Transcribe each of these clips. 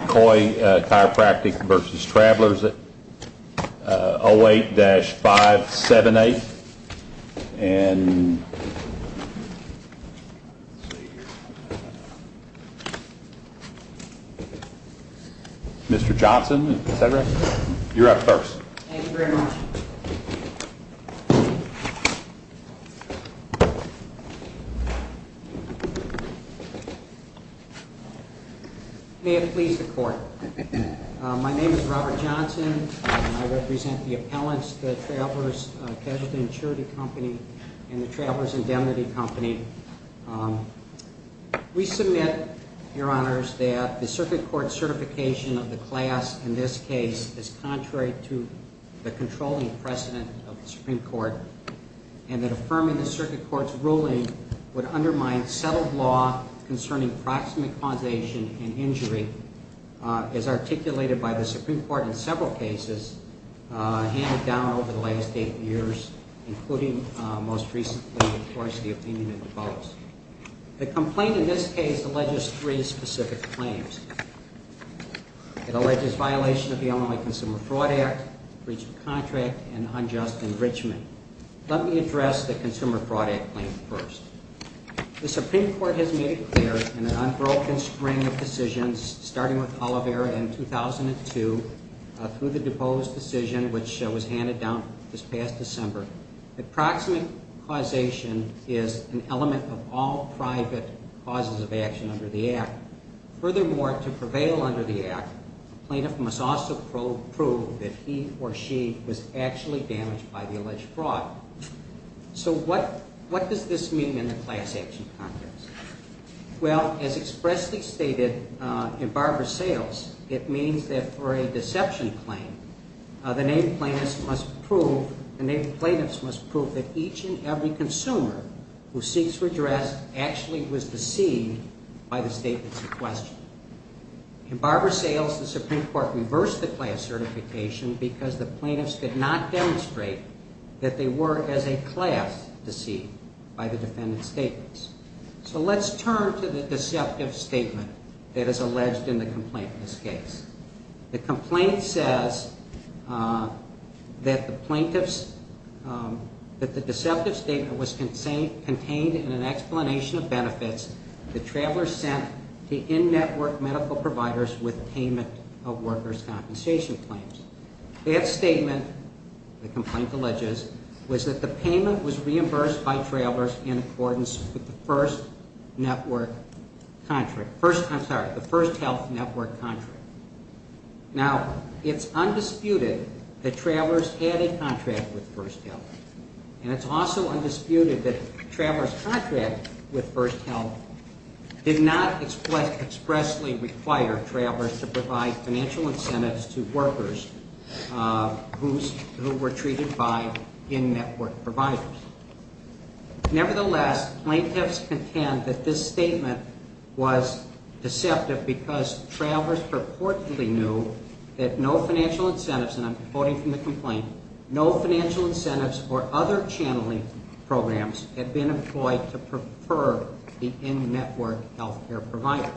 Coy Chiropractic vs. Travelers 08-578. Mr. Johnson, is that right? You're up first. Thank you very much. May it please the Court. My name is Robert Johnson. I represent the appellants, the Travelers Casualty & Surety Company and the Travelers Indemnity Company. We submit, Your Honors, that the circuit court certification of the class in this case is contrary to the controlling precedent of the Supreme Court and that affirming the circuit court's ruling would undermine settled law concerning proximate causation and injury as articulated by the Supreme Court in several cases handed down over the last eight years, including most recently, of course, the opinion of DuPose. The complaint in this case alleges three specific claims. It alleges violation of the Illinois Consumer Fraud Act, breach of contract, and unjust enrichment. Let me address the Consumer Fraud Act claim first. The Supreme Court has made it clear in an unbroken string of decisions, starting with Olivera in 2002, through the DuPose decision, which was handed down this past December, that proximate causation is an element of all private causes of action under the Act. Furthermore, to prevail under the Act, the plaintiff must also prove that he or she was actually damaged by the alleged fraud. So what does this mean in the class action context? Well, as expressly stated in Barber Sales, it means that for a deception claim, the named plaintiffs must prove that each and every consumer who seeks redress actually was deceived by the statements in question. In Barber Sales, the Supreme Court reversed the class certification because the plaintiffs did not demonstrate that they were, as a class, deceived by the defendant's statements. So let's turn to the deceptive statement that is alleged in the complaint in this case. The complaint says that the plaintiff's, that the deceptive statement was contained in an explanation of benefits the traveler sent to in-network medical providers with payment of workers' compensation claims. That statement, the complaint alleges, was that the payment was reimbursed by travelers in accordance with the First Health Network contract. Now, it's undisputed that travelers had a contract with First Health. And it's also undisputed that travelers' contract with First Health did not expressly require travelers to provide financial incentives to workers who were treated by in-network providers. Nevertheless, plaintiffs contend that this statement was deceptive because travelers purportedly knew that no financial incentives, and I'm quoting from the complaint, no financial incentives or other channeling programs had been employed to prefer the in-network health care providers.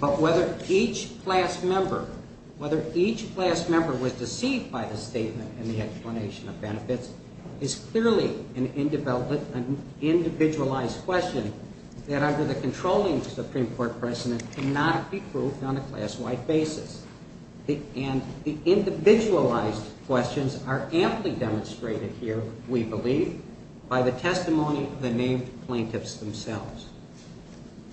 But whether each class member, whether each class member was deceived by the statement and the explanation of benefits is clearly an individualized question that under the controlling Supreme Court precedent cannot be proved on a class-wide basis. And the individualized questions are amply demonstrated here, we believe, by the testimony of the named plaintiffs themselves.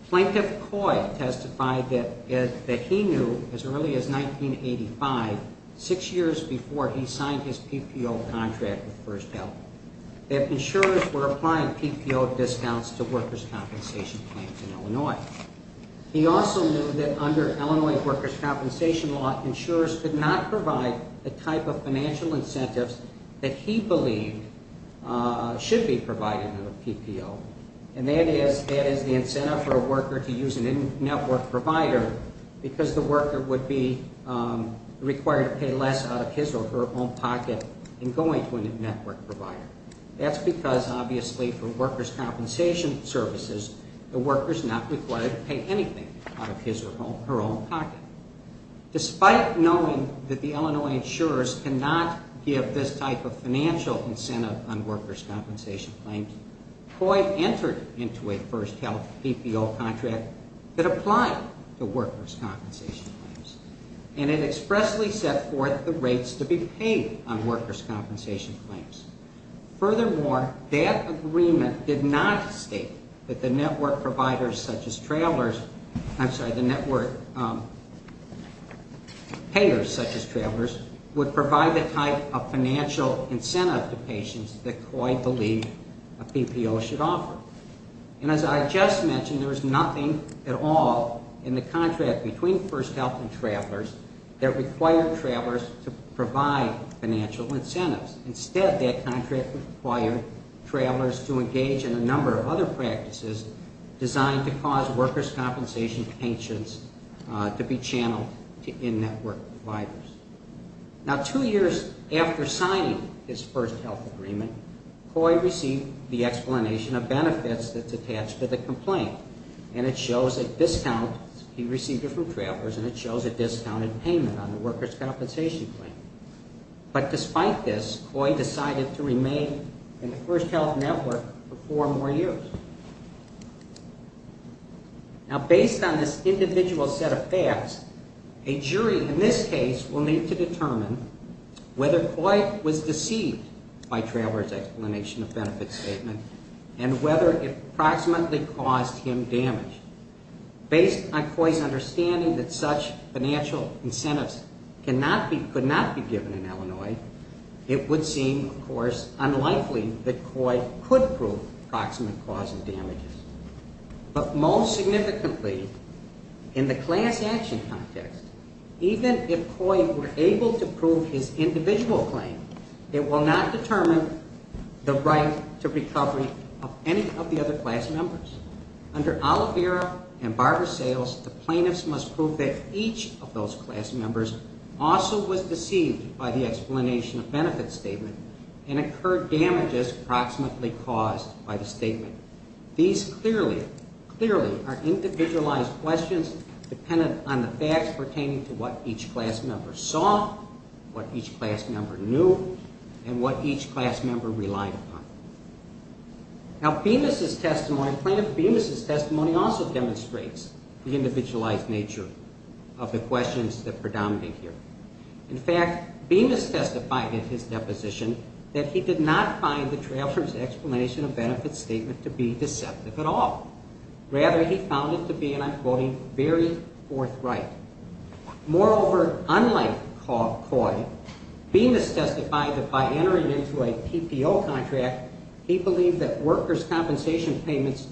Plaintiff Coy testified that he knew as early as 1985, six years before he signed his PPO contract with First Health, that insurers were applying PPO discounts to workers' compensation plans in Illinois. He also knew that under Illinois workers' compensation law, insurers could not provide the type of financial incentives that he believed should be provided under PPO. And that is the incentive for a worker to use an in-network provider because the worker would be required to pay less out of his or her own pocket than going to an in-network provider. That's because, obviously, for workers' compensation services, the worker is not required to pay anything out of his or her own pocket. Despite knowing that the Illinois insurers cannot give this type of financial incentive on workers' compensation claims, Coy entered into a First Health PPO contract that applied to workers' compensation claims, and it expressly set forth the rates to be paid on workers' compensation claims. Furthermore, that agreement did not state that the network providers such as travelers I'm sorry, the network payers such as travelers, would provide the type of financial incentive to patients that Coy believed a PPO should offer. And as I just mentioned, there was nothing at all in the contract between First Health and travelers that required travelers to provide financial incentives. Instead, that contract required travelers to engage in a number of other practices designed to cause workers' compensation patients to be channeled to in-network providers. Now, two years after signing this First Health agreement, Coy received the explanation of benefits that's attached to the complaint, and it shows a discount, he received it from travelers, and it shows a discounted payment on the workers' compensation claim. But despite this, Coy decided to remain in the First Health network for four more years. Now, based on this individual set of facts, a jury in this case will need to determine whether Coy was deceived by travelers' explanation of benefits statement and whether it approximately caused him damage. Based on Coy's understanding that such financial incentives could not be given in Illinois, it would seem, of course, unlikely that Coy could prove approximate cause of damages. But most significantly, in the class action context, even if Coy were able to prove his individual claim, it will not determine the right to recovery of any of the other class members. Under Oliveira and Barber's sales, the plaintiffs must prove that each of those class members also was deceived by the explanation of benefits statement and occurred damages approximately caused by the statement. These clearly are individualized questions dependent on the facts pertaining to what each class member saw, what each class member knew, and what each class member relied upon. Now, Bemis' testimony, plaintiff Bemis' testimony also demonstrates the individualized nature of the questions that predominate here. In fact, Bemis testified in his deposition that he did not find the travelers' explanation of benefits statement to be deceptive at all. Rather, he found it to be, and I'm quoting, very forthright. Moreover, unlike Coy, Bemis testified that by entering into a PPO contract, he believed that workers' compensation payments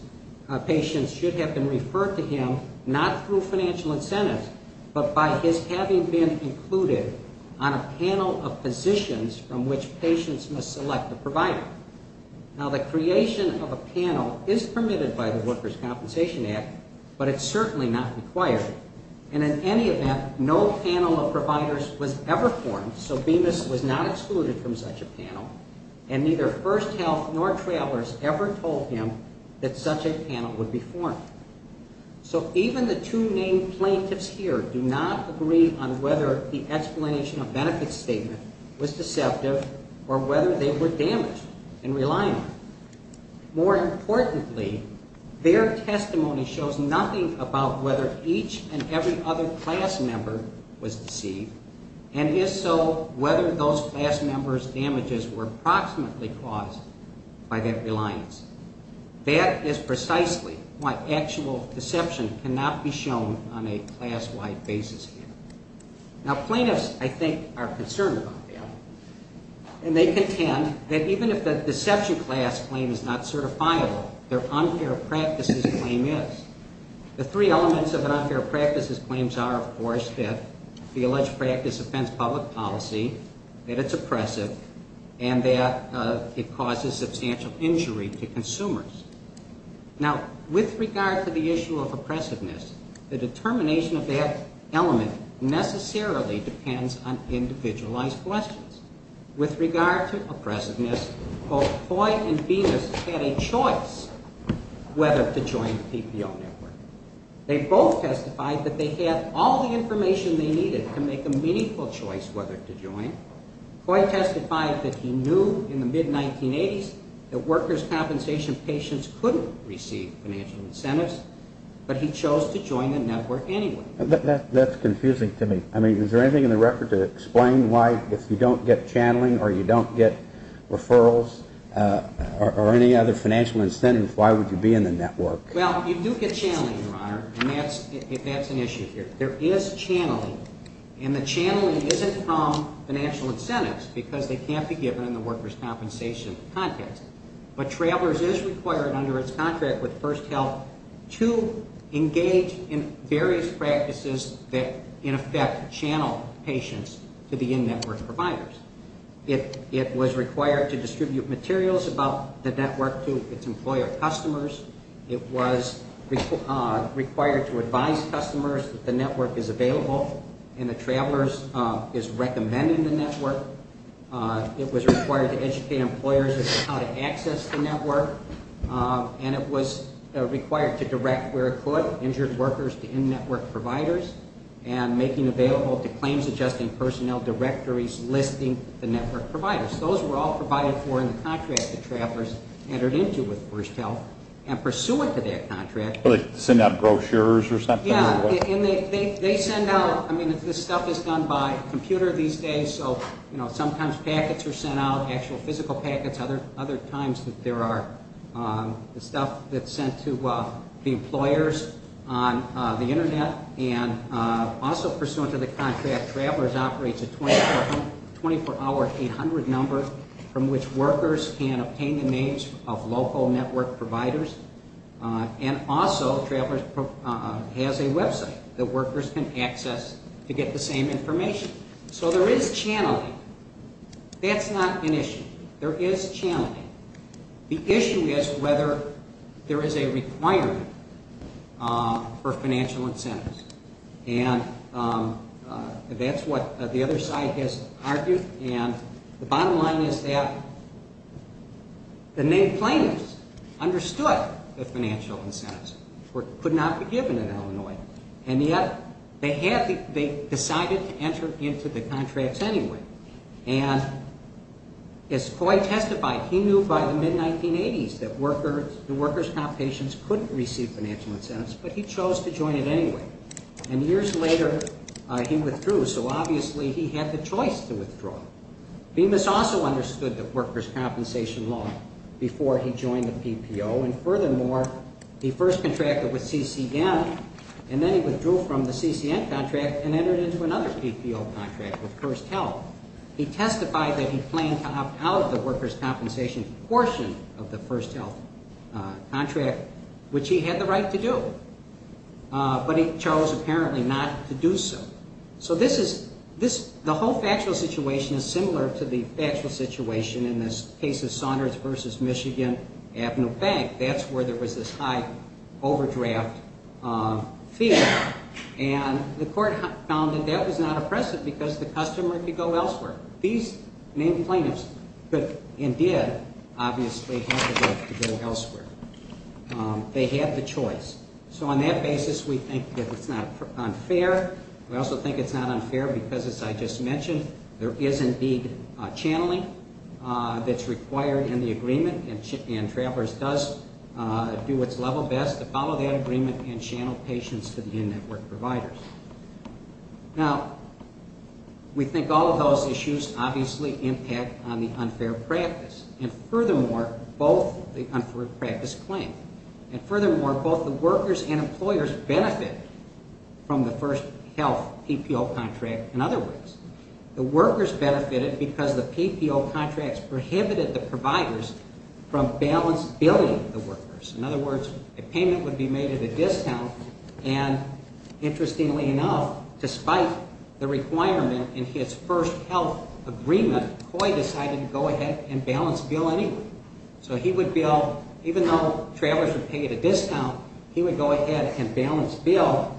patients should have been referred to him not through financial incentives, but by his having been included on a panel of positions from which patients must select the provider. Now, the creation of a panel is permitted by the Workers' Compensation Act, but it's certainly not required. And in any event, no panel of providers was ever formed, so Bemis was not excluded from such a panel, and neither First Health nor travelers ever told him that such a panel would be formed. So even the two named plaintiffs here do not agree on whether the explanation of benefits statement was deceptive or whether they were damaged and reliant. More importantly, their testimony shows nothing about whether each and every other class member was deceived, and if so, whether those class members' damages were approximately caused by that reliance. That is precisely what actual deception cannot be shown on a class-wide basis here. Now, plaintiffs, I think, are concerned about that, and they contend that even if the deception class claim is not certifiable, their unfair practices claim is. The three elements of an unfair practices claim are, of course, that the alleged practice offends public policy, that it's oppressive, and that it causes substantial injury to consumers. Now, with regard to the issue of oppressiveness, the determination of that element necessarily depends on individualized questions. With regard to oppressiveness, both Coy and Bemis had a choice whether to join the PPO network. They both testified that they had all the information they needed to make a meaningful choice whether to join. Coy testified that he knew in the mid-1980s that workers' compensation patients couldn't receive financial incentives, but he chose to join the network anyway. That's confusing to me. I mean, is there anything in the record to explain why, if you don't get channeling or you don't get referrals or any other financial incentives, why would you be in the network? Well, you do get channeling, Your Honor, and that's an issue here. There is channeling, and the channeling isn't from financial incentives because they can't be given in the workers' compensation context. But Travelers is required under its contract with First Health to engage in various practices that, in effect, channel patients to the in-network providers. It was required to distribute materials about the network to its employer customers. It was required to advise customers that the network is available and that Travelers is recommending the network. It was required to educate employers about how to access the network, and it was required to direct, where it could, injured workers to in-network providers and making available to claims-adjusting personnel directories listing the network providers. Those were all provided for in the contract that Travelers entered into with First Health, and pursuant to that contract- Like send out brochures or something? Yeah, and they send out, I mean, this stuff is done by computer these days, so sometimes packets are sent out, actual physical packets. Other times there are stuff that's sent to the employers on the internet. And also pursuant to the contract, Travelers operates a 24-hour 800 number from which workers can obtain the names of local network providers. And also Travelers has a website that workers can access to get the same information. So there is channeling. That's not an issue. There is channeling. The issue is whether there is a requirement for financial incentives, and that's what the other side has argued, and the bottom line is that the named plaintiffs understood the financial incentives could not be given in Illinois, and yet they decided to enter into the contracts anyway. And as Coy testified, he knew by the mid-1980s that workers' compatients couldn't receive financial incentives, but he chose to join it anyway. And years later he withdrew, so obviously he had the choice to withdraw. Bemis also understood the workers' compensation law before he joined the PPO, and furthermore, he first contracted with CCN, and then he withdrew from the CCN contract and entered into another PPO contract with First Health. He testified that he planned to opt out of the workers' compensation portion of the First Health contract, which he had the right to do, but he chose apparently not to do so. So this is the whole factual situation is similar to the factual situation in this case of Saunders v. Michigan Avenue Bank. That's where there was this high overdraft fee, and the court found that that was not oppressive because the customer could go elsewhere. These named plaintiffs could and did obviously have the right to go elsewhere. They had the choice. So on that basis we think that it's not unfair. We also think it's not unfair because, as I just mentioned, there is indeed channeling that's required in the agreement, and Travelers does do its level best to follow that agreement and channel patients to the in-network providers. Now, we think all of those issues obviously impact on the unfair practice, and furthermore, both the unfair practice claim, and furthermore, both the workers and employers benefit from the First Health PPO contract, in other words, the workers benefited because the PPO contracts prohibited the providers from balance billing the workers. In other words, a payment would be made at a discount, and interestingly enough, despite the requirement in his First Health agreement, Coy decided to go ahead and balance bill anyone. So he would bill, even though Travelers would pay at a discount, he would go ahead and balance bill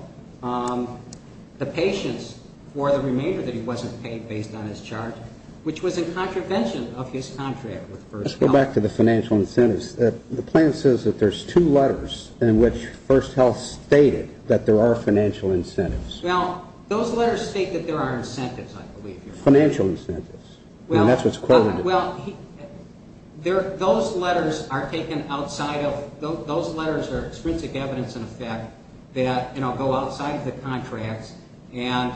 the patients for the remainder that he wasn't paid based on his charge, which was in contravention of his contract with First Health. Let's go back to the financial incentives. The plan says that there's two letters in which First Health stated that there are financial incentives. Well, those letters state that there are incentives, I believe. Financial incentives, and that's what's quoted. Well, those letters are taken outside of, those letters are extrinsic evidence in effect that, you know, go outside of the contracts, and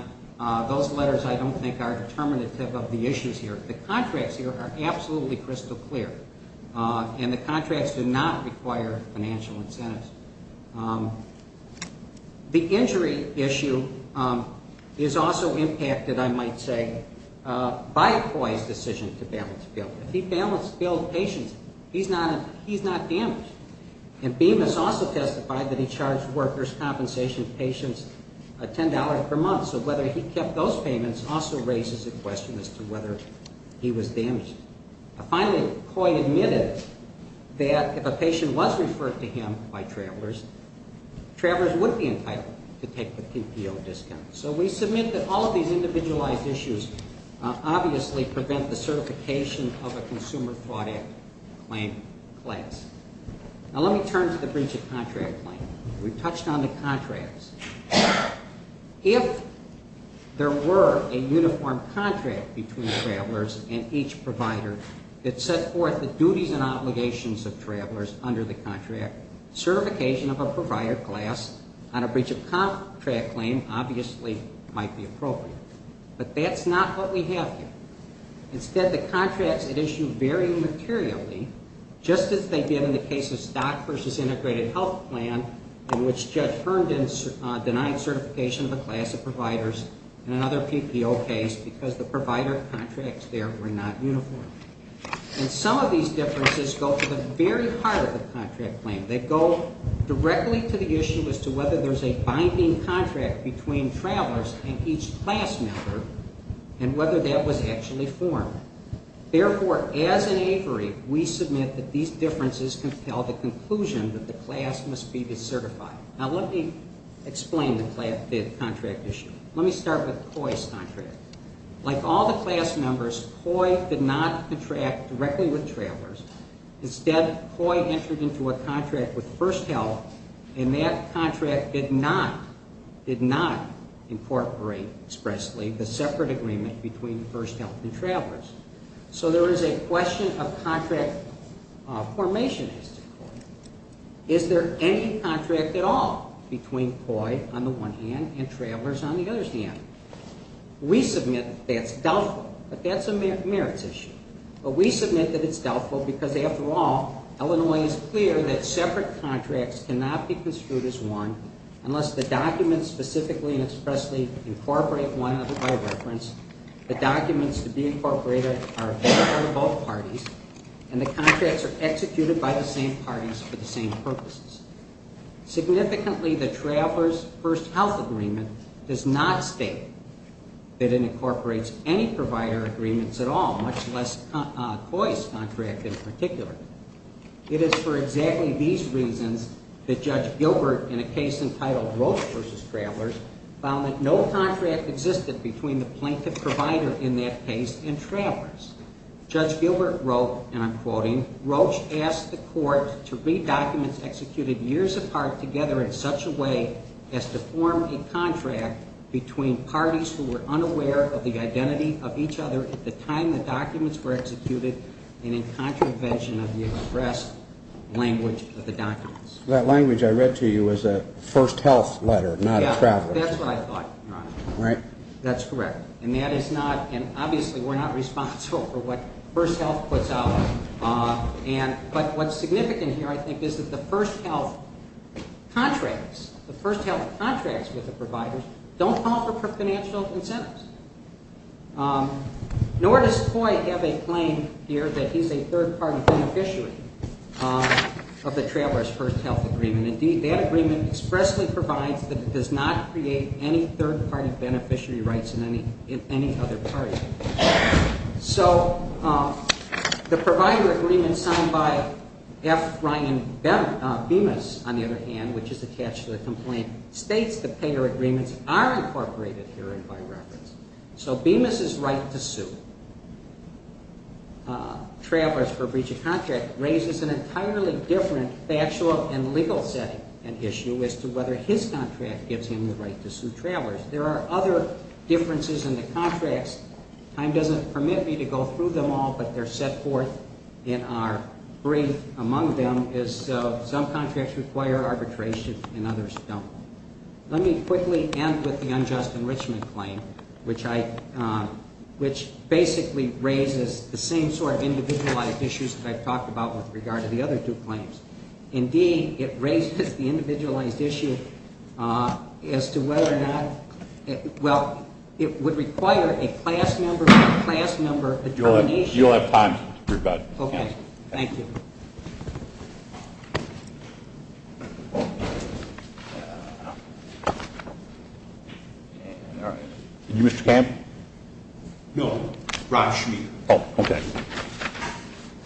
those letters I don't think are determinative of the issues here. The contracts here are absolutely crystal clear, and the contracts do not require financial incentives. The injury issue is also impacted, I might say, by Coy's decision to balance bill. If he balanced billed patients, he's not damaged. And Bemis also testified that he charged workers' compensation patients $10 per month, so whether he kept those payments also raises a question as to whether he was damaged. Finally, Coy admitted that if a patient was referred to him by travelers, travelers would be entitled to take the PPO discount. So we submit that all of these individualized issues obviously prevent the certification of a Consumer Fraud Act claim class. Now let me turn to the breach of contract claim. We've touched on the contracts. If there were a uniform contract between travelers and each provider, it set forth the duties and obligations of travelers under the contract. Certification of a provider class on a breach of contract claim obviously might be appropriate. But that's not what we have here. Instead, the contracts at issue vary materially, just as they did in the case of stock versus integrated health plan, in which Judge Hearn denied certification of a class of providers in another PPO case because the provider contracts there were not uniform. And some of these differences go to the very heart of the contract claim. They go directly to the issue as to whether there's a binding contract between travelers and each class member and whether that was actually formed. Therefore, as an aviary, we submit that these differences compel the conclusion that the class must be decertified. Now let me explain the contract issue. Let me start with Coy's contract. Like all the class members, Coy did not contract directly with travelers. Instead, Coy entered into a contract with First Health, and that contract did not incorporate expressly the separate agreement between First Health and travelers. So there is a question of contract formation as to Coy. Is there any contract at all between Coy on the one hand and travelers on the other hand? We submit that's doubtful, but that's a merits issue. But we submit that it's doubtful because, after all, Illinois is clear that separate contracts cannot be construed as one unless the documents specifically and expressly incorporate one another by reference, the documents to be incorporated are both parties, and the contracts are executed by the same parties for the same purposes. Significantly, the travelers First Health agreement does not state that it incorporates any provider agreements at all, much less Coy's contract in particular. It is for exactly these reasons that Judge Gilbert, in a case entitled Roche v. Travelers, found that no contract existed between the plaintiff provider in that case and travelers. Judge Gilbert wrote, and I'm quoting, Roche asked the court to read documents executed years apart together in such a way as to form a contract between parties who were unaware of the identity of each other at the time the documents were executed and in contravention of the expressed language of the documents. That language I read to you was a First Health letter, not a traveler's. That's what I thought, Your Honor. That's correct. And that is not, and obviously we're not responsible for what First Health puts out. But what's significant here, I think, is that the First Health contracts, the First Health contracts with the providers don't offer financial incentives. Nor does Coy have a claim here that he's a third-party beneficiary of the Travelers First Health agreement. Indeed, that agreement expressly provides that it does not create any third-party beneficiary rights in any other party. So the provider agreement signed by F. Ryan Bemis, on the other hand, which is attached to the complaint, states the payer agreements are incorporated herein by reference. So Bemis' right to sue travelers for breach of contract raises an entirely different factual and legal setting and issue as to whether his contract gives him the right to sue travelers. There are other differences in the contracts. Time doesn't permit me to go through them all, but they're set forth in our brief. Among them is some contracts require arbitration and others don't. Let me quickly end with the unjust enrichment claim, which basically raises the same sort of individualized issues that I've talked about with regard to the other two claims. Indeed, it raises the individualized issue as to whether or not, well, it would require a class member by class member adjudication. You'll have time to rebut. Okay. Thank you. Are you Mr. Camp? No, Rob Schmier. Oh, okay.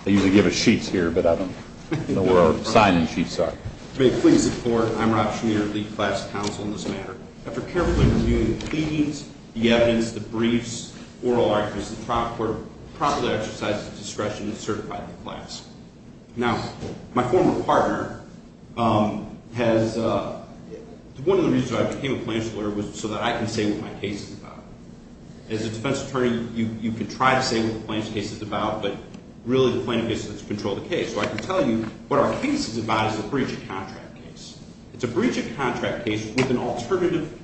They usually give us sheets here, but I don't know where our sign-in sheets are. May it please the Court, I'm Rob Schmier, lead class counsel in this matter. After carefully reviewing the pleadings, the evidence, the briefs, oral arguments, the trial court promptly exercises discretion to certify the class. Now, my former partner has, one of the reasons I became a plaintiff's lawyer was so that I can say what my case is about. As a defense attorney, you can try to say what the plaintiff's case is about, but really the plaintiff gets to control the case. So I can tell you what our case is about is a breach of contract case. It's a breach of contract case with an alternative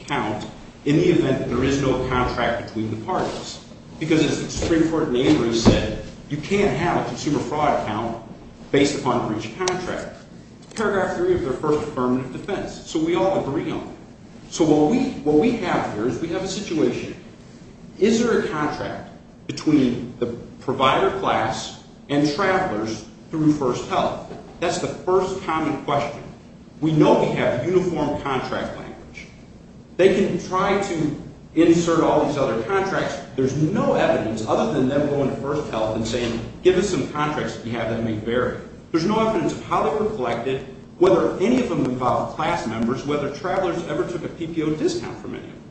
count in the event that there is no contract between the parties. Because as the Supreme Court in Avery said, you can't have a consumer fraud account based upon a breach of contract. Paragraph three of their first affirmative defense. So we all agree on that. So what we have here is we have a situation. Is there a contract between the provider class and travelers through First Health? That's the first common question. We know we have uniform contract language. They can try to insert all these other contracts. There's no evidence other than them going to First Health and saying, give us some contracts that we have that may vary. There's no evidence of how they were collected, whether any of them involved class members, whether travelers ever took a PPO discount from any of them.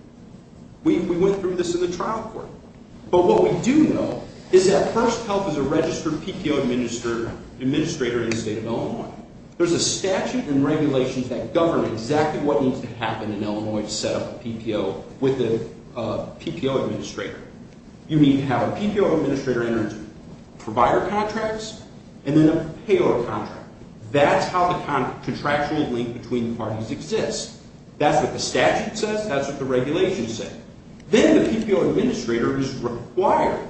We went through this in the trial court. But what we do know is that First Health is a registered PPO administrator in the state of Illinois. There's a statute and regulations that govern exactly what needs to happen in Illinois to set up a PPO with a PPO administrator. You need to have a PPO administrator enter into provider contracts and then a payor contract. That's how the contractual link between parties exists. That's what the statute says. That's what the regulations say. Then the PPO administrator is required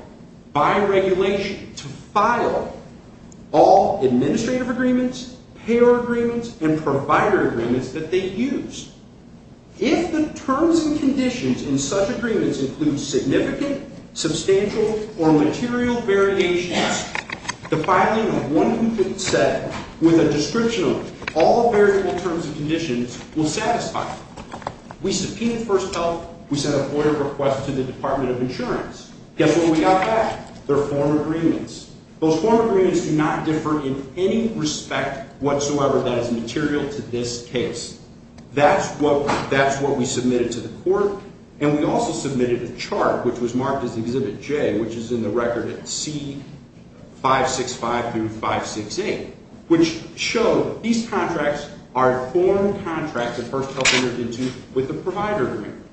by regulation to file all administrative agreements, payor agreements, and provider agreements that they use. If the terms and conditions in such agreements include significant, substantial, or material variations, the filing of one who could set with a description of all the variable terms and conditions will satisfy. We subpoenaed First Health. We sent a FOIA request to the Department of Insurance. Guess what we got back? Their form agreements. Those form agreements do not differ in any respect whatsoever that is material to this case. That's what we submitted to the court. And we also submitted a chart, which was marked as Exhibit J, which is in the record at C-565-568, which showed these contracts are form contracts that First Health entered into with the provider agreement.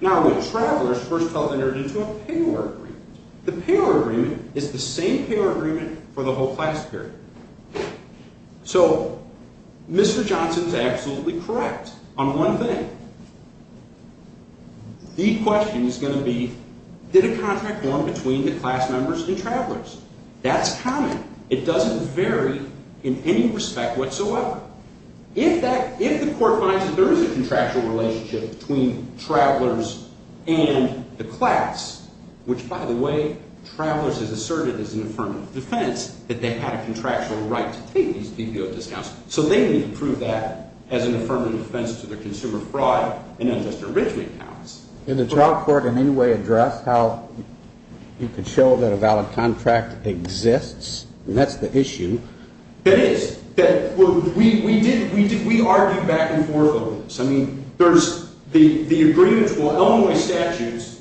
Now, with Travelers, First Health entered into a payor agreement. The payor agreement is the same payor agreement for the whole class period. So Mr. Johnson is absolutely correct on one thing. The question is going to be, did a contract form between the class members and Travelers? That's common. It doesn't vary in any respect whatsoever. If the court finds that there is a contractual relationship between Travelers and the class, which, by the way, Travelers has asserted as an affirmative defense that they had a contractual right to take these PPO discounts. So they need to prove that as an affirmative defense to their consumer fraud and unjust enrichment counts. Did the trial court in any way address how you could show that a valid contract exists? And that's the issue. That is, we argued back and forth on this. I mean, there's the agreement for Illinois statutes.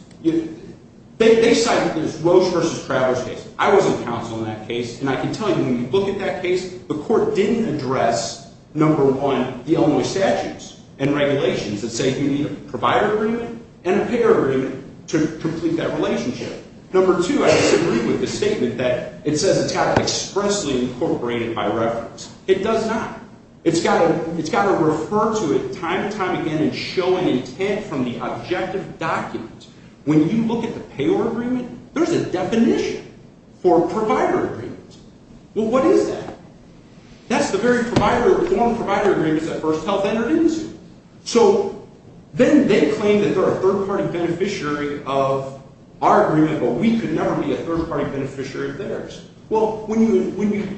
They cited this Roche versus Travelers case. I was on counsel in that case, and I can tell you when you look at that case, the court didn't address, number one, the Illinois statutes and regulations that say you need a provider agreement and a payor agreement to complete that relationship. Number two, I disagree with the statement that it says it's got to expressly incorporate it by reference. It does not. It's got to refer to it time and time again and show an intent from the objective document. When you look at the payor agreement, there's a definition for provider agreements. Well, what is that? That's the very form of provider agreements that First Health entered into. So then they claim that they're a third-party beneficiary of our agreement, but we could never be a third-party beneficiary of theirs. Well, when you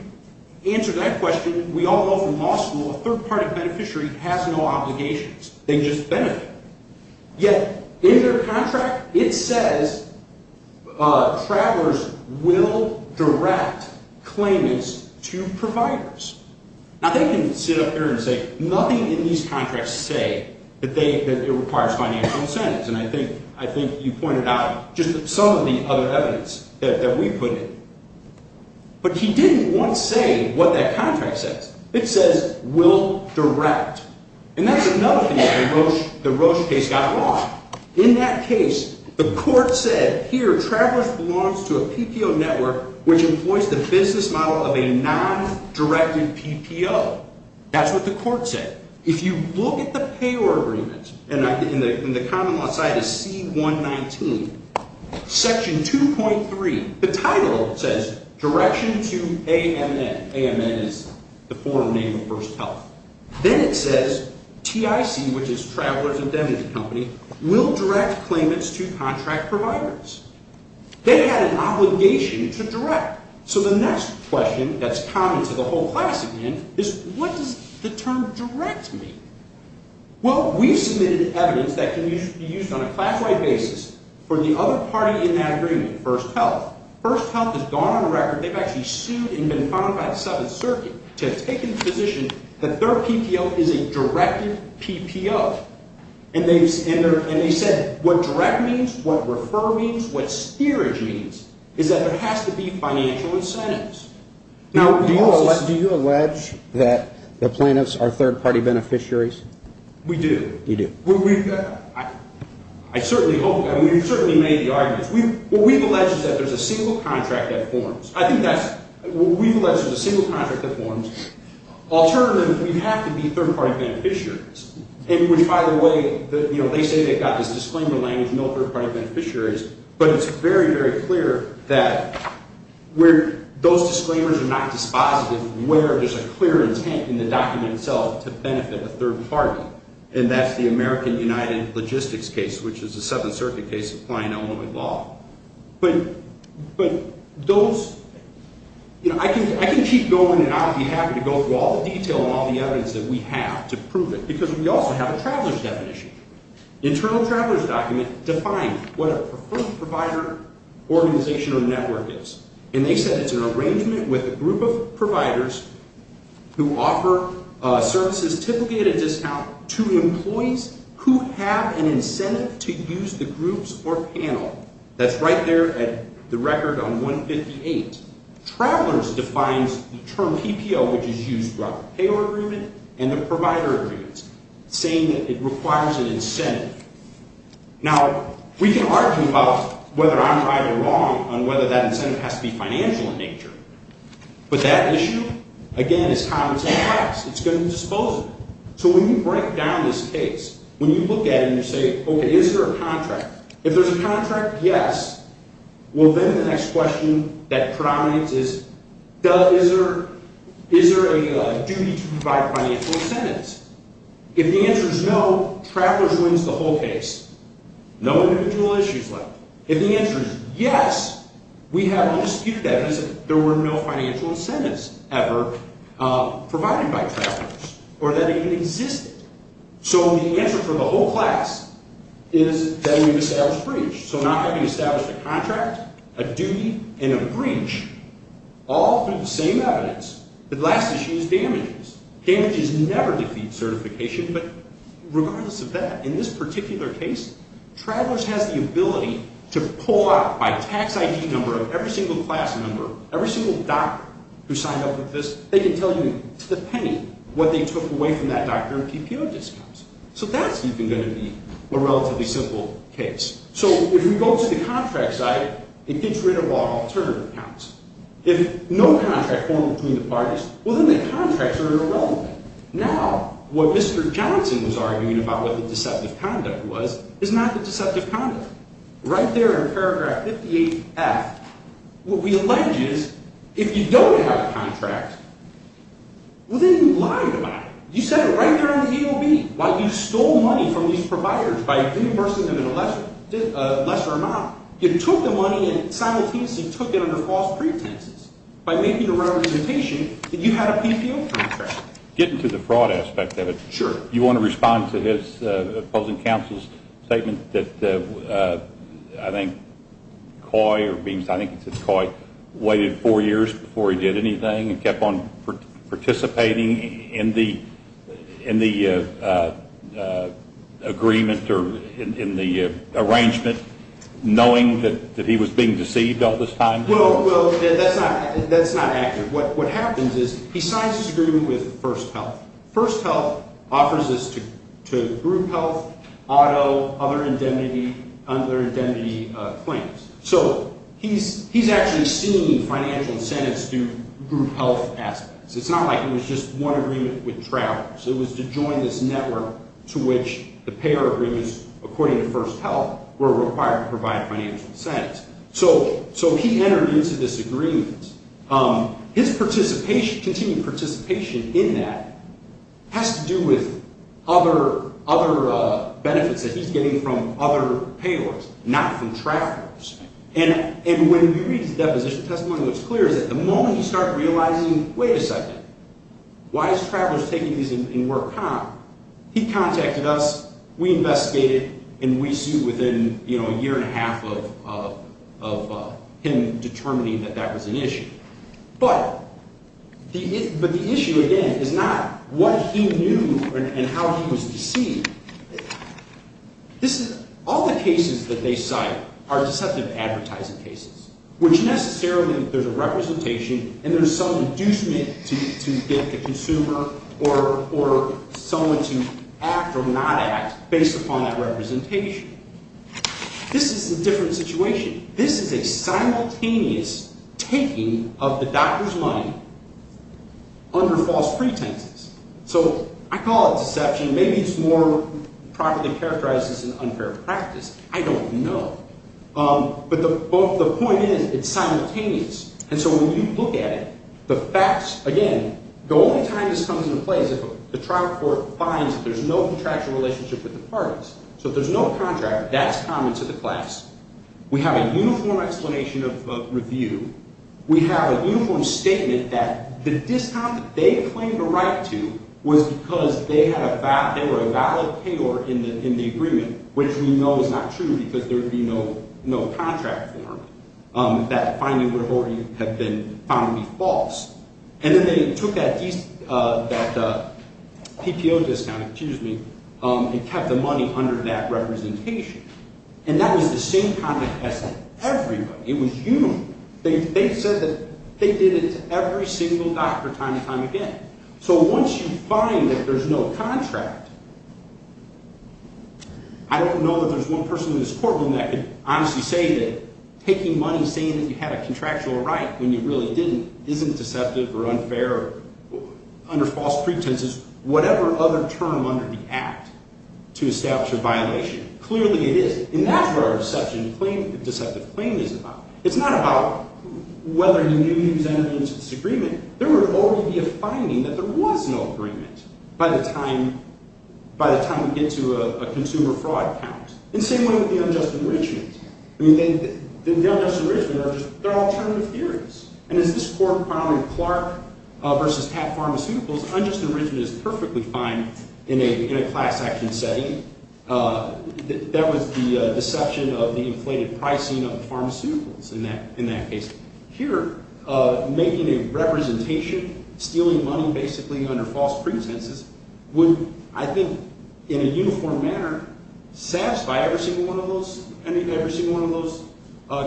answer that question, we all know from law school a third-party beneficiary has no obligations. They just benefit. Yet in their contract, it says Travelers will direct claimants to providers. Now, they can sit up there and say nothing in these contracts say that it requires financial incentives. And I think you pointed out just some of the other evidence that we put in. But he didn't once say what that contract says. It says will direct. And that's another thing that the Roche case got wrong. In that case, the court said, here, Travelers belongs to a PPO network which employs the business model of a non-directed PPO. That's what the court said. If you look at the payor agreements, and the common law side is C119, Section 2.3, the title says direction to AMN. AMN is the former name of First Health. Then it says TIC, which is Travelers Indemnity Company, will direct claimants to contract providers. They had an obligation to direct. So the next question that's common to the whole class, again, is what does the term direct mean? Well, we submitted evidence that can be used on a class-wide basis for the other party in that agreement, First Health. First Health has gone on record. They've actually sued and been fined by the Seventh Circuit to have taken the position that their PPO is a directed PPO. And they said what direct means, what refer means, what steerage means is that there has to be financial incentives. Now, do you allege that the plaintiffs are third-party beneficiaries? We do. You do. I certainly hope that. We've certainly made the arguments. What we've alleged is that there's a single contract that forms. I think that's what we've alleged is a single contract that forms. Alternatively, we have to be third-party beneficiaries. And by the way, they say they've got this disclaimer language, no third-party beneficiaries. But it's very, very clear that where those disclaimers are not dispositive, where there's a clear intent in the document itself to benefit a third party. And that's the American United Logistics case, which is a Seventh Circuit case applying Illinois law. But those, you know, I can keep going and I'll be happy to go through all the detail and all the evidence that we have to prove it because we also have a traveler's definition. The internal traveler's document defined what a preferred provider organization or network is. And they said it's an arrangement with a group of providers who offer services typically at a discount to employees who have an incentive to use the groups or panel. That's right there at the record on 158. Travelers defines the term PPO, which is used throughout the payroll agreement and the provider agreements, saying that it requires an incentive. Now, we can argue about whether I'm right or wrong on whether that incentive has to be financial in nature. But that issue, again, is how it's expressed. It's going to be dispositive. So when you break down this case, when you look at it and you say, okay, is there a contract? If there's a contract, yes. Well, then the next question that predominates is, is there a duty to provide financial incentives? If the answer is no, travelers wins the whole case. No individual issues left. If the answer is yes, we have undisputed evidence that there were no financial incentives ever provided by travelers or that they even existed. So the answer for the whole class is that we've established breach. So not having established a contract, a duty, and a breach, all through the same evidence, the last issue is damages. Damages never defeat certification. But regardless of that, in this particular case, travelers has the ability to pull out by tax ID number of every single class member, every single doctor who signed up with this, they can tell you to the penny what they took away from that doctor in PPO discounts. So that's even going to be a relatively simple case. So if we go to the contract side, it gets rid of all alternative accounts. If no contract formed between the parties, well, then the contracts are irrelevant. Now, what Mr. Johnson was arguing about what the deceptive conduct was is not the deceptive conduct. Right there in paragraph 58F, what we allege is if you don't have a contract, well, then you lied about it. You said it right there on the AOB. You stole money from these providers by reimbursement of a lesser amount. You took the money and simultaneously took it under false pretenses by making a representation that you had a PPO contract. Getting to the fraud aspect of it. Sure. You want to respond to his opposing counsel's statement that I think Coy or Beams, I think it's Coy, waited four years before he did anything and kept on participating in the agreement or in the arrangement, knowing that he was being deceived all this time? Well, that's not accurate. What happens is he signs his agreement with First Health. First Health offers this to group health, auto, other indemnity claims. So he's actually seen financial incentives to group health aspects. It's not like it was just one agreement with travelers. It was to join this network to which the payer agreements, according to First Health, were required to provide financial incentives. So he entered into this agreement. His continued participation in that has to do with other benefits that he's getting from other payers, not from travelers. And when you read his deposition testimony, what's clear is that the moment he started realizing, wait a second, why is travelers taking these and we're a cop, he contacted us, we investigated, and we see within a year and a half of him determining that that was an issue. But the issue, again, is not what he knew and how he was deceived. All the cases that they cite are deceptive advertising cases, which necessarily there's a representation and there's some inducement to get the consumer or someone to act or not act based upon that representation. This is a different situation. This is a simultaneous taking of the doctor's mind under false pretenses. So I call it deception. Maybe it's more properly characterized as an unfair practice. I don't know. But the point is it's simultaneous. And so when you look at it, the facts, again, the only time this comes into play is if the trial court finds that there's no contractual relationship with the parties. So if there's no contract, that's common to the class. We have a uniform explanation of review. We have a uniform statement that the discount that they claimed a right to was because they were a valid payor in the agreement, which we know is not true because there would be no contract form. That finding would have already been found to be false. And then they took that PPO discount and kept the money under that representation. And that was the same conduct as everybody. It was uniform. They said that they did it to every single doctor time and time again. So once you find that there's no contract, I don't know that there's one person in this courtroom that could honestly say that taking money, saying that you had a contractual right when you really didn't, isn't deceptive or unfair or under false pretenses, whatever other term under the act to establish a violation. Clearly it is. And that's what our deception claim, deceptive claim is about. It's not about whether you use evidence of disagreement. There would already be a finding that there was no agreement by the time we get to a consumer fraud count. In the same way with the unjust enrichment. I mean, the unjust enrichment are just alternative theories. And as this court found in Clark v. Pat Pharmaceuticals, unjust enrichment is perfectly fine in a class action setting. That was the deception of the inflated pricing of pharmaceuticals in that case. Here, making a representation, stealing money basically under false pretenses would, I think, in a uniform manner, satisfy every single one of those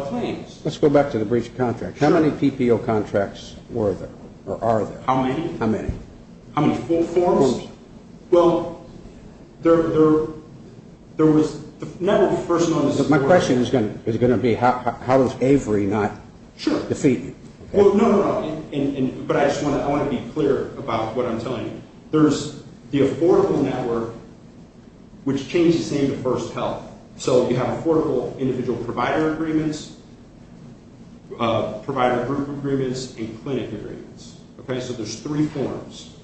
claims. Let's go back to the breach of contract. How many PPO contracts were there or are there? How many? How many? How many? Full forms? Full forms. Well, there was never a person on this court. My question is going to be how does Avery not defeat you? No, no, no. But I just want to be clear about what I'm telling you. There's the Affordable Network, which changed its name to First Health. So you have Affordable Individual Provider Agreements, Provider Group Agreements, and Clinic Agreements. So there's three forms.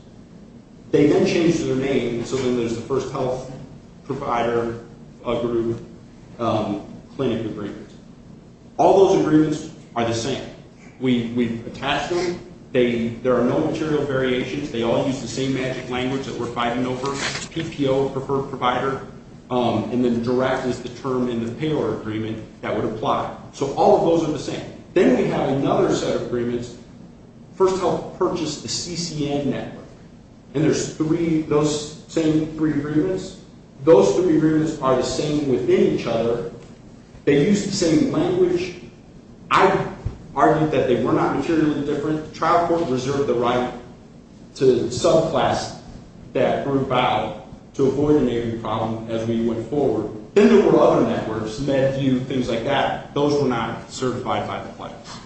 They then changed their name so then there's the First Health, Provider Group, Clinic Agreements. All those agreements are the same. We've attached them. There are no material variations. They all use the same magic language that we're fighting over, PPO, Preferred Provider, and then direct is the term in the Payroll Agreement that would apply. So all of those are the same. Then we have another set of agreements. First Health purchased the CCN Network, and there's those same three agreements. Those three agreements are the same within each other. They use the same language. I argued that they were not materially different. The trial court reserved the right to subclass that group out to avoid an Avery problem as we went forward. Then there were other networks, MedView, things like that. Those were not certified by the clinics.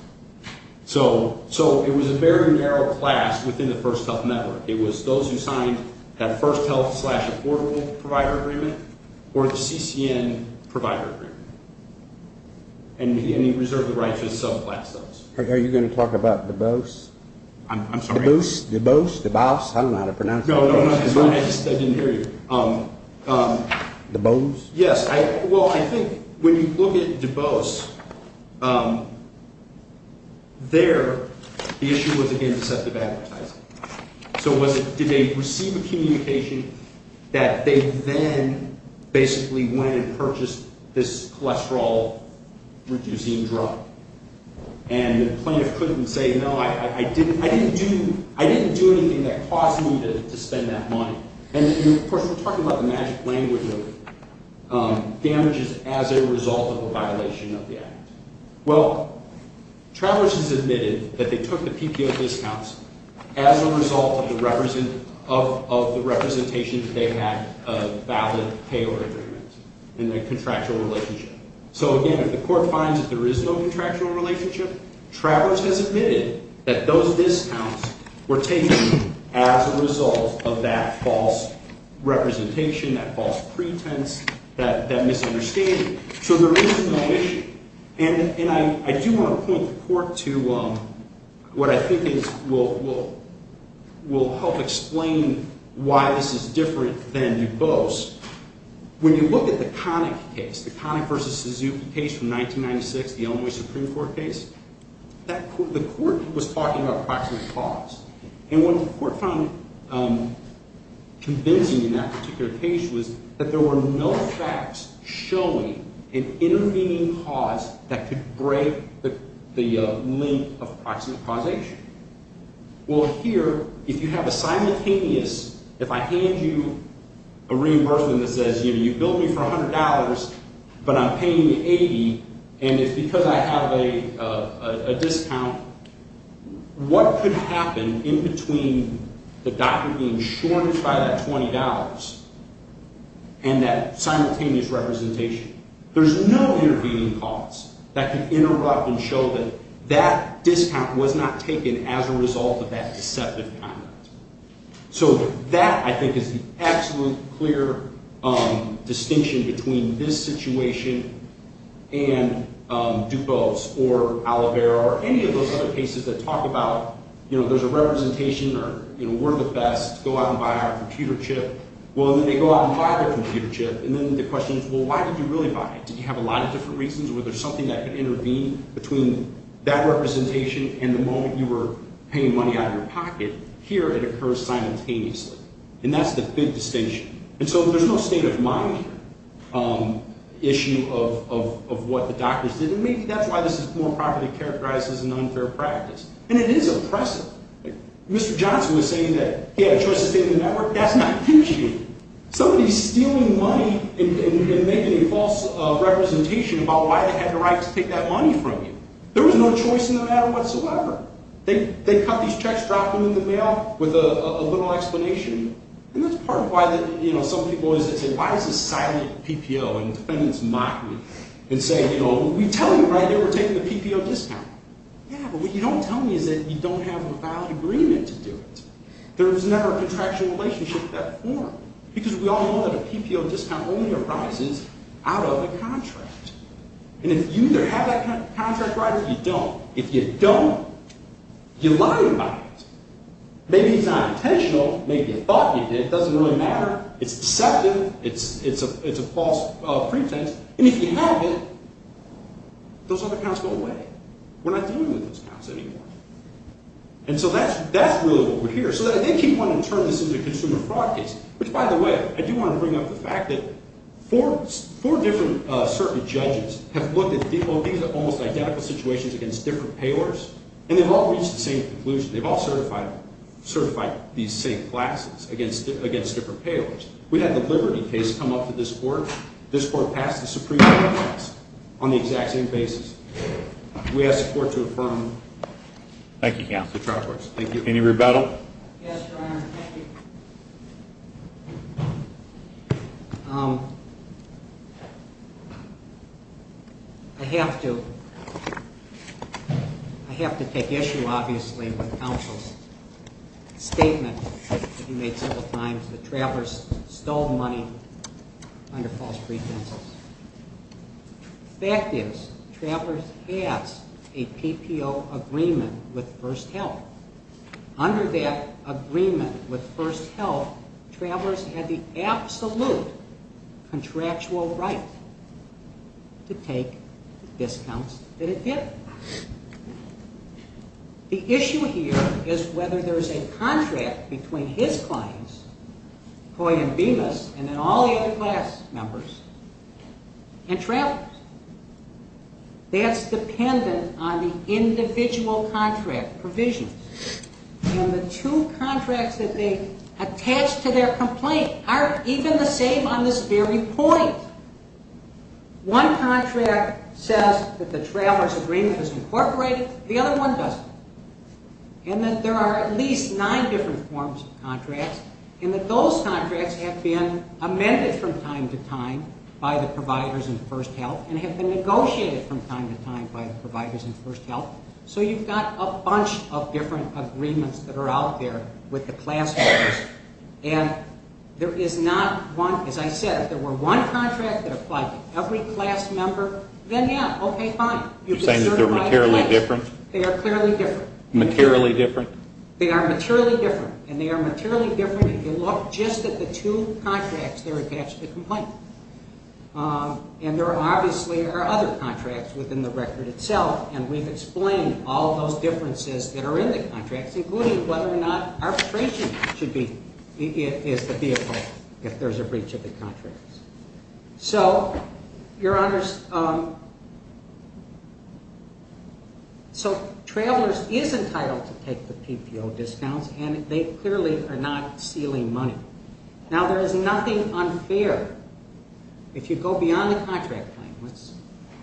So it was a very narrow class within the First Health Network. It was those who signed that First Health slash Affordable Provider Agreement or the CCN Provider Agreement, and he reserved the right to subclass those. Are you going to talk about Dubose? I'm sorry? Dubose? Dubose? I don't know how to pronounce it. No, no, no. I just didn't hear you. Dubose? Yes. Well, I think when you look at Dubose, there the issue was, again, deceptive advertising. So did they receive a communication that they then basically went and purchased this cholesterol-reducing drug? And the plaintiff couldn't say, no, I didn't do anything that caused me to spend that money. And, of course, we're talking about the magic language of damages as a result of a violation of the act. Well, Travers has admitted that they took the PPO discounts as a result of the representation that they had a valid payor agreement in their contractual relationship. So, again, if the court finds that there is no contractual relationship, Travers has admitted that those discounts were taken as a result of that false representation, that false pretense, that misunderstanding. So there is no issue. And I do want to point the court to what I think will help explain why this is different than Dubose. When you look at the Connick case, the Connick v. Suzuki case from 1996, the Illinois Supreme Court case, the court was talking about proximate cause. And what the court found convincing in that particular case was that there were no facts showing an intervening cause that could break the link of proximate causation. Well, here, if you have a simultaneous, if I hand you a reimbursement that says, you know, a discount, what could happen in between the doctor being shorted by that $20 and that simultaneous representation? There's no intervening cause that could interrupt and show that that discount was not taken as a result of that deceptive comment. So that, I think, is the absolute clear distinction between this situation and Dubose or Oliveira or any of those other cases that talk about, you know, there's a representation or, you know, we're the best, go out and buy our computer chip. Well, then they go out and buy their computer chip, and then the question is, well, why did you really buy it? Did you have a lot of different reasons? Was there something that could intervene between that representation and the moment you were paying money out of your pocket? Here, it occurs simultaneously. And that's the big distinction. And so there's no state of mind issue of what the doctors did. And maybe that's why this is more properly characterized as an unfair practice. And it is oppressive. Mr. Johnson was saying that he had a choice to stay in the network. That's not true. Somebody's stealing money and making a false representation about why they had the right to take that money from you. There was no choice in the matter whatsoever. They cut these checks, drop them in the mail with a little explanation. And that's part of why, you know, some people always say, why is this silent PPO? And defendants mock me and say, you know, we tell you right here we're taking the PPO discount. Yeah, but what you don't tell me is that you don't have a valid agreement to do it. There was never a contractual relationship of that form because we all know that a PPO discount only arises out of a contract. And if you either have that contract right or you don't, if you don't, you're lying about it. Maybe it's not intentional. Maybe you thought you did. It doesn't really matter. It's deceptive. It's a false pretense. And if you have it, those other counts go away. We're not dealing with those counts anymore. And so that's really what we're here. So I did keep wanting to turn this into a consumer fraud case, which, by the way, I do want to bring up the fact that four different circuit judges have looked at these almost identical situations against different payors, and they've all reached the same conclusion. They've all certified these same classes against different payors. We had the Liberty case come up to this court. This court passed the Supreme Court on the exact same basis. We ask the court to affirm. Thank you, counsel. Thank you. Any rebuttal? Yes, Your Honor. Thank you. I have to take issue, obviously, with counsel's statement that he made several times that travelers stole money under false pretenses. The fact is travelers passed a PPO agreement with First Health. Under that agreement with First Health, travelers had the absolute contractual right to take the discounts that it did. The issue here is whether there's a contract between his clients, Coy and Bemis, and then all the other class members, and travelers. That's dependent on the individual contract provision. And the two contracts that they attach to their complaint aren't even the same on this very point. One contract says that the traveler's agreement is incorporated. The other one doesn't. And that there are at least nine different forms of contracts, and that those contracts have been amended from time to time by the providers in First Health and have been negotiated from time to time by the providers in First Health. So you've got a bunch of different agreements that are out there with the class members. And there is not one. As I said, if there were one contract that applied to every class member, then, yeah, okay, fine. You're saying that they're materially different? They are clearly different. Materially different? They are materially different, and they are materially different if you look just at the two contracts that are attached to the complaint. And there obviously are other contracts within the record itself, and we've explained all those differences that are in the contracts, including whether or not arbitration is the vehicle if there's a breach of the contracts. So, your honors, so travelers is entitled to take the PPO discounts, and they clearly are not stealing money. Now, there is nothing unfair if you go beyond the contract claim. Let's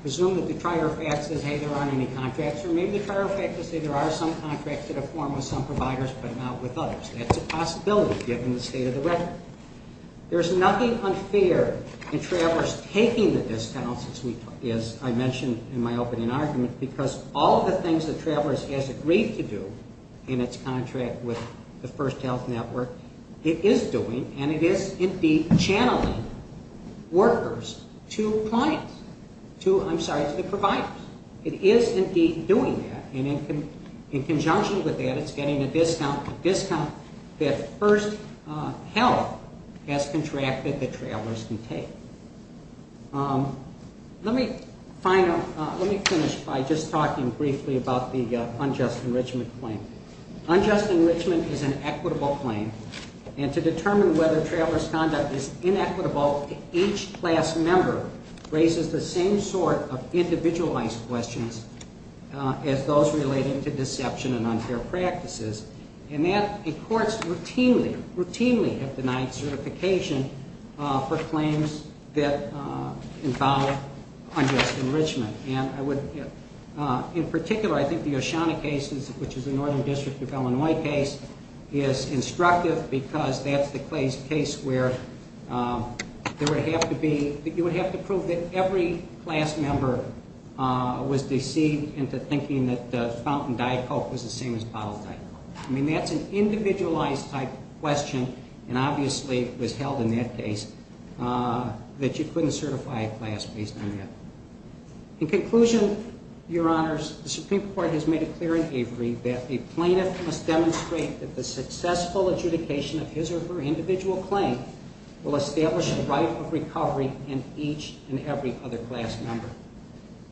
assume that the trier of facts says, hey, there aren't any contracts, or maybe the trier of facts will say there are some contracts that are formed with some providers but not with others. That's a possibility given the state of the record. There's nothing unfair in travelers taking the discounts, as I mentioned in my opening argument, because all of the things that travelers has agreed to do in its contract with the First Health Network, it is doing, and it is indeed channeling workers to clients, I'm sorry, to the providers. It is indeed doing that, and in conjunction with that, it's getting a discount that First Health has contracted that travelers can take. Let me finish by just talking briefly about the unjust enrichment claim. Unjust enrichment is an equitable claim, and to determine whether traveler's conduct is inequitable, each class member raises the same sort of individualized questions as those relating to deception and unfair practices. And courts routinely, routinely have denied certification for claims that involve unjust enrichment. In particular, I think the Oceana case, which is the Northern District of Illinois case, is instructive because that's the case where you would have to prove that every class member was deceived into thinking that Fountain Dye Coke was the same as Bottled Dye. I mean, that's an individualized type question, and obviously it was held in that case, that you couldn't certify a class based on that. In conclusion, Your Honors, the Supreme Court has made it clear in Avery that a plaintiff must demonstrate that the successful adjudication of his or her individual claim will establish a right of recovery in each and every other class member.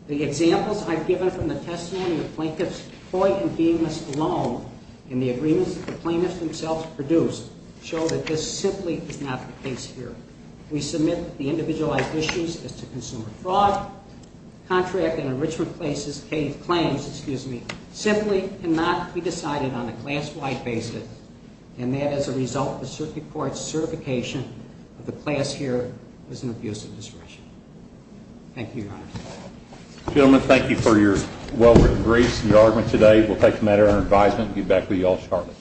The examples I've given from the testimony of plaintiffs Hoyt and Demas alone and the agreements that the plaintiffs themselves produced show that this simply is not the case here. We submit that the individualized issues as to consumer fraud, contract and enrichment claims simply cannot be decided on a class-wide basis, and that as a result, the Supreme Court's certification of the class here is an abuse of discretion. Thank you, Your Honors. Gentlemen, thank you for your well-written briefs and your argument today. We'll take a matter under advisement and get back with you all shortly.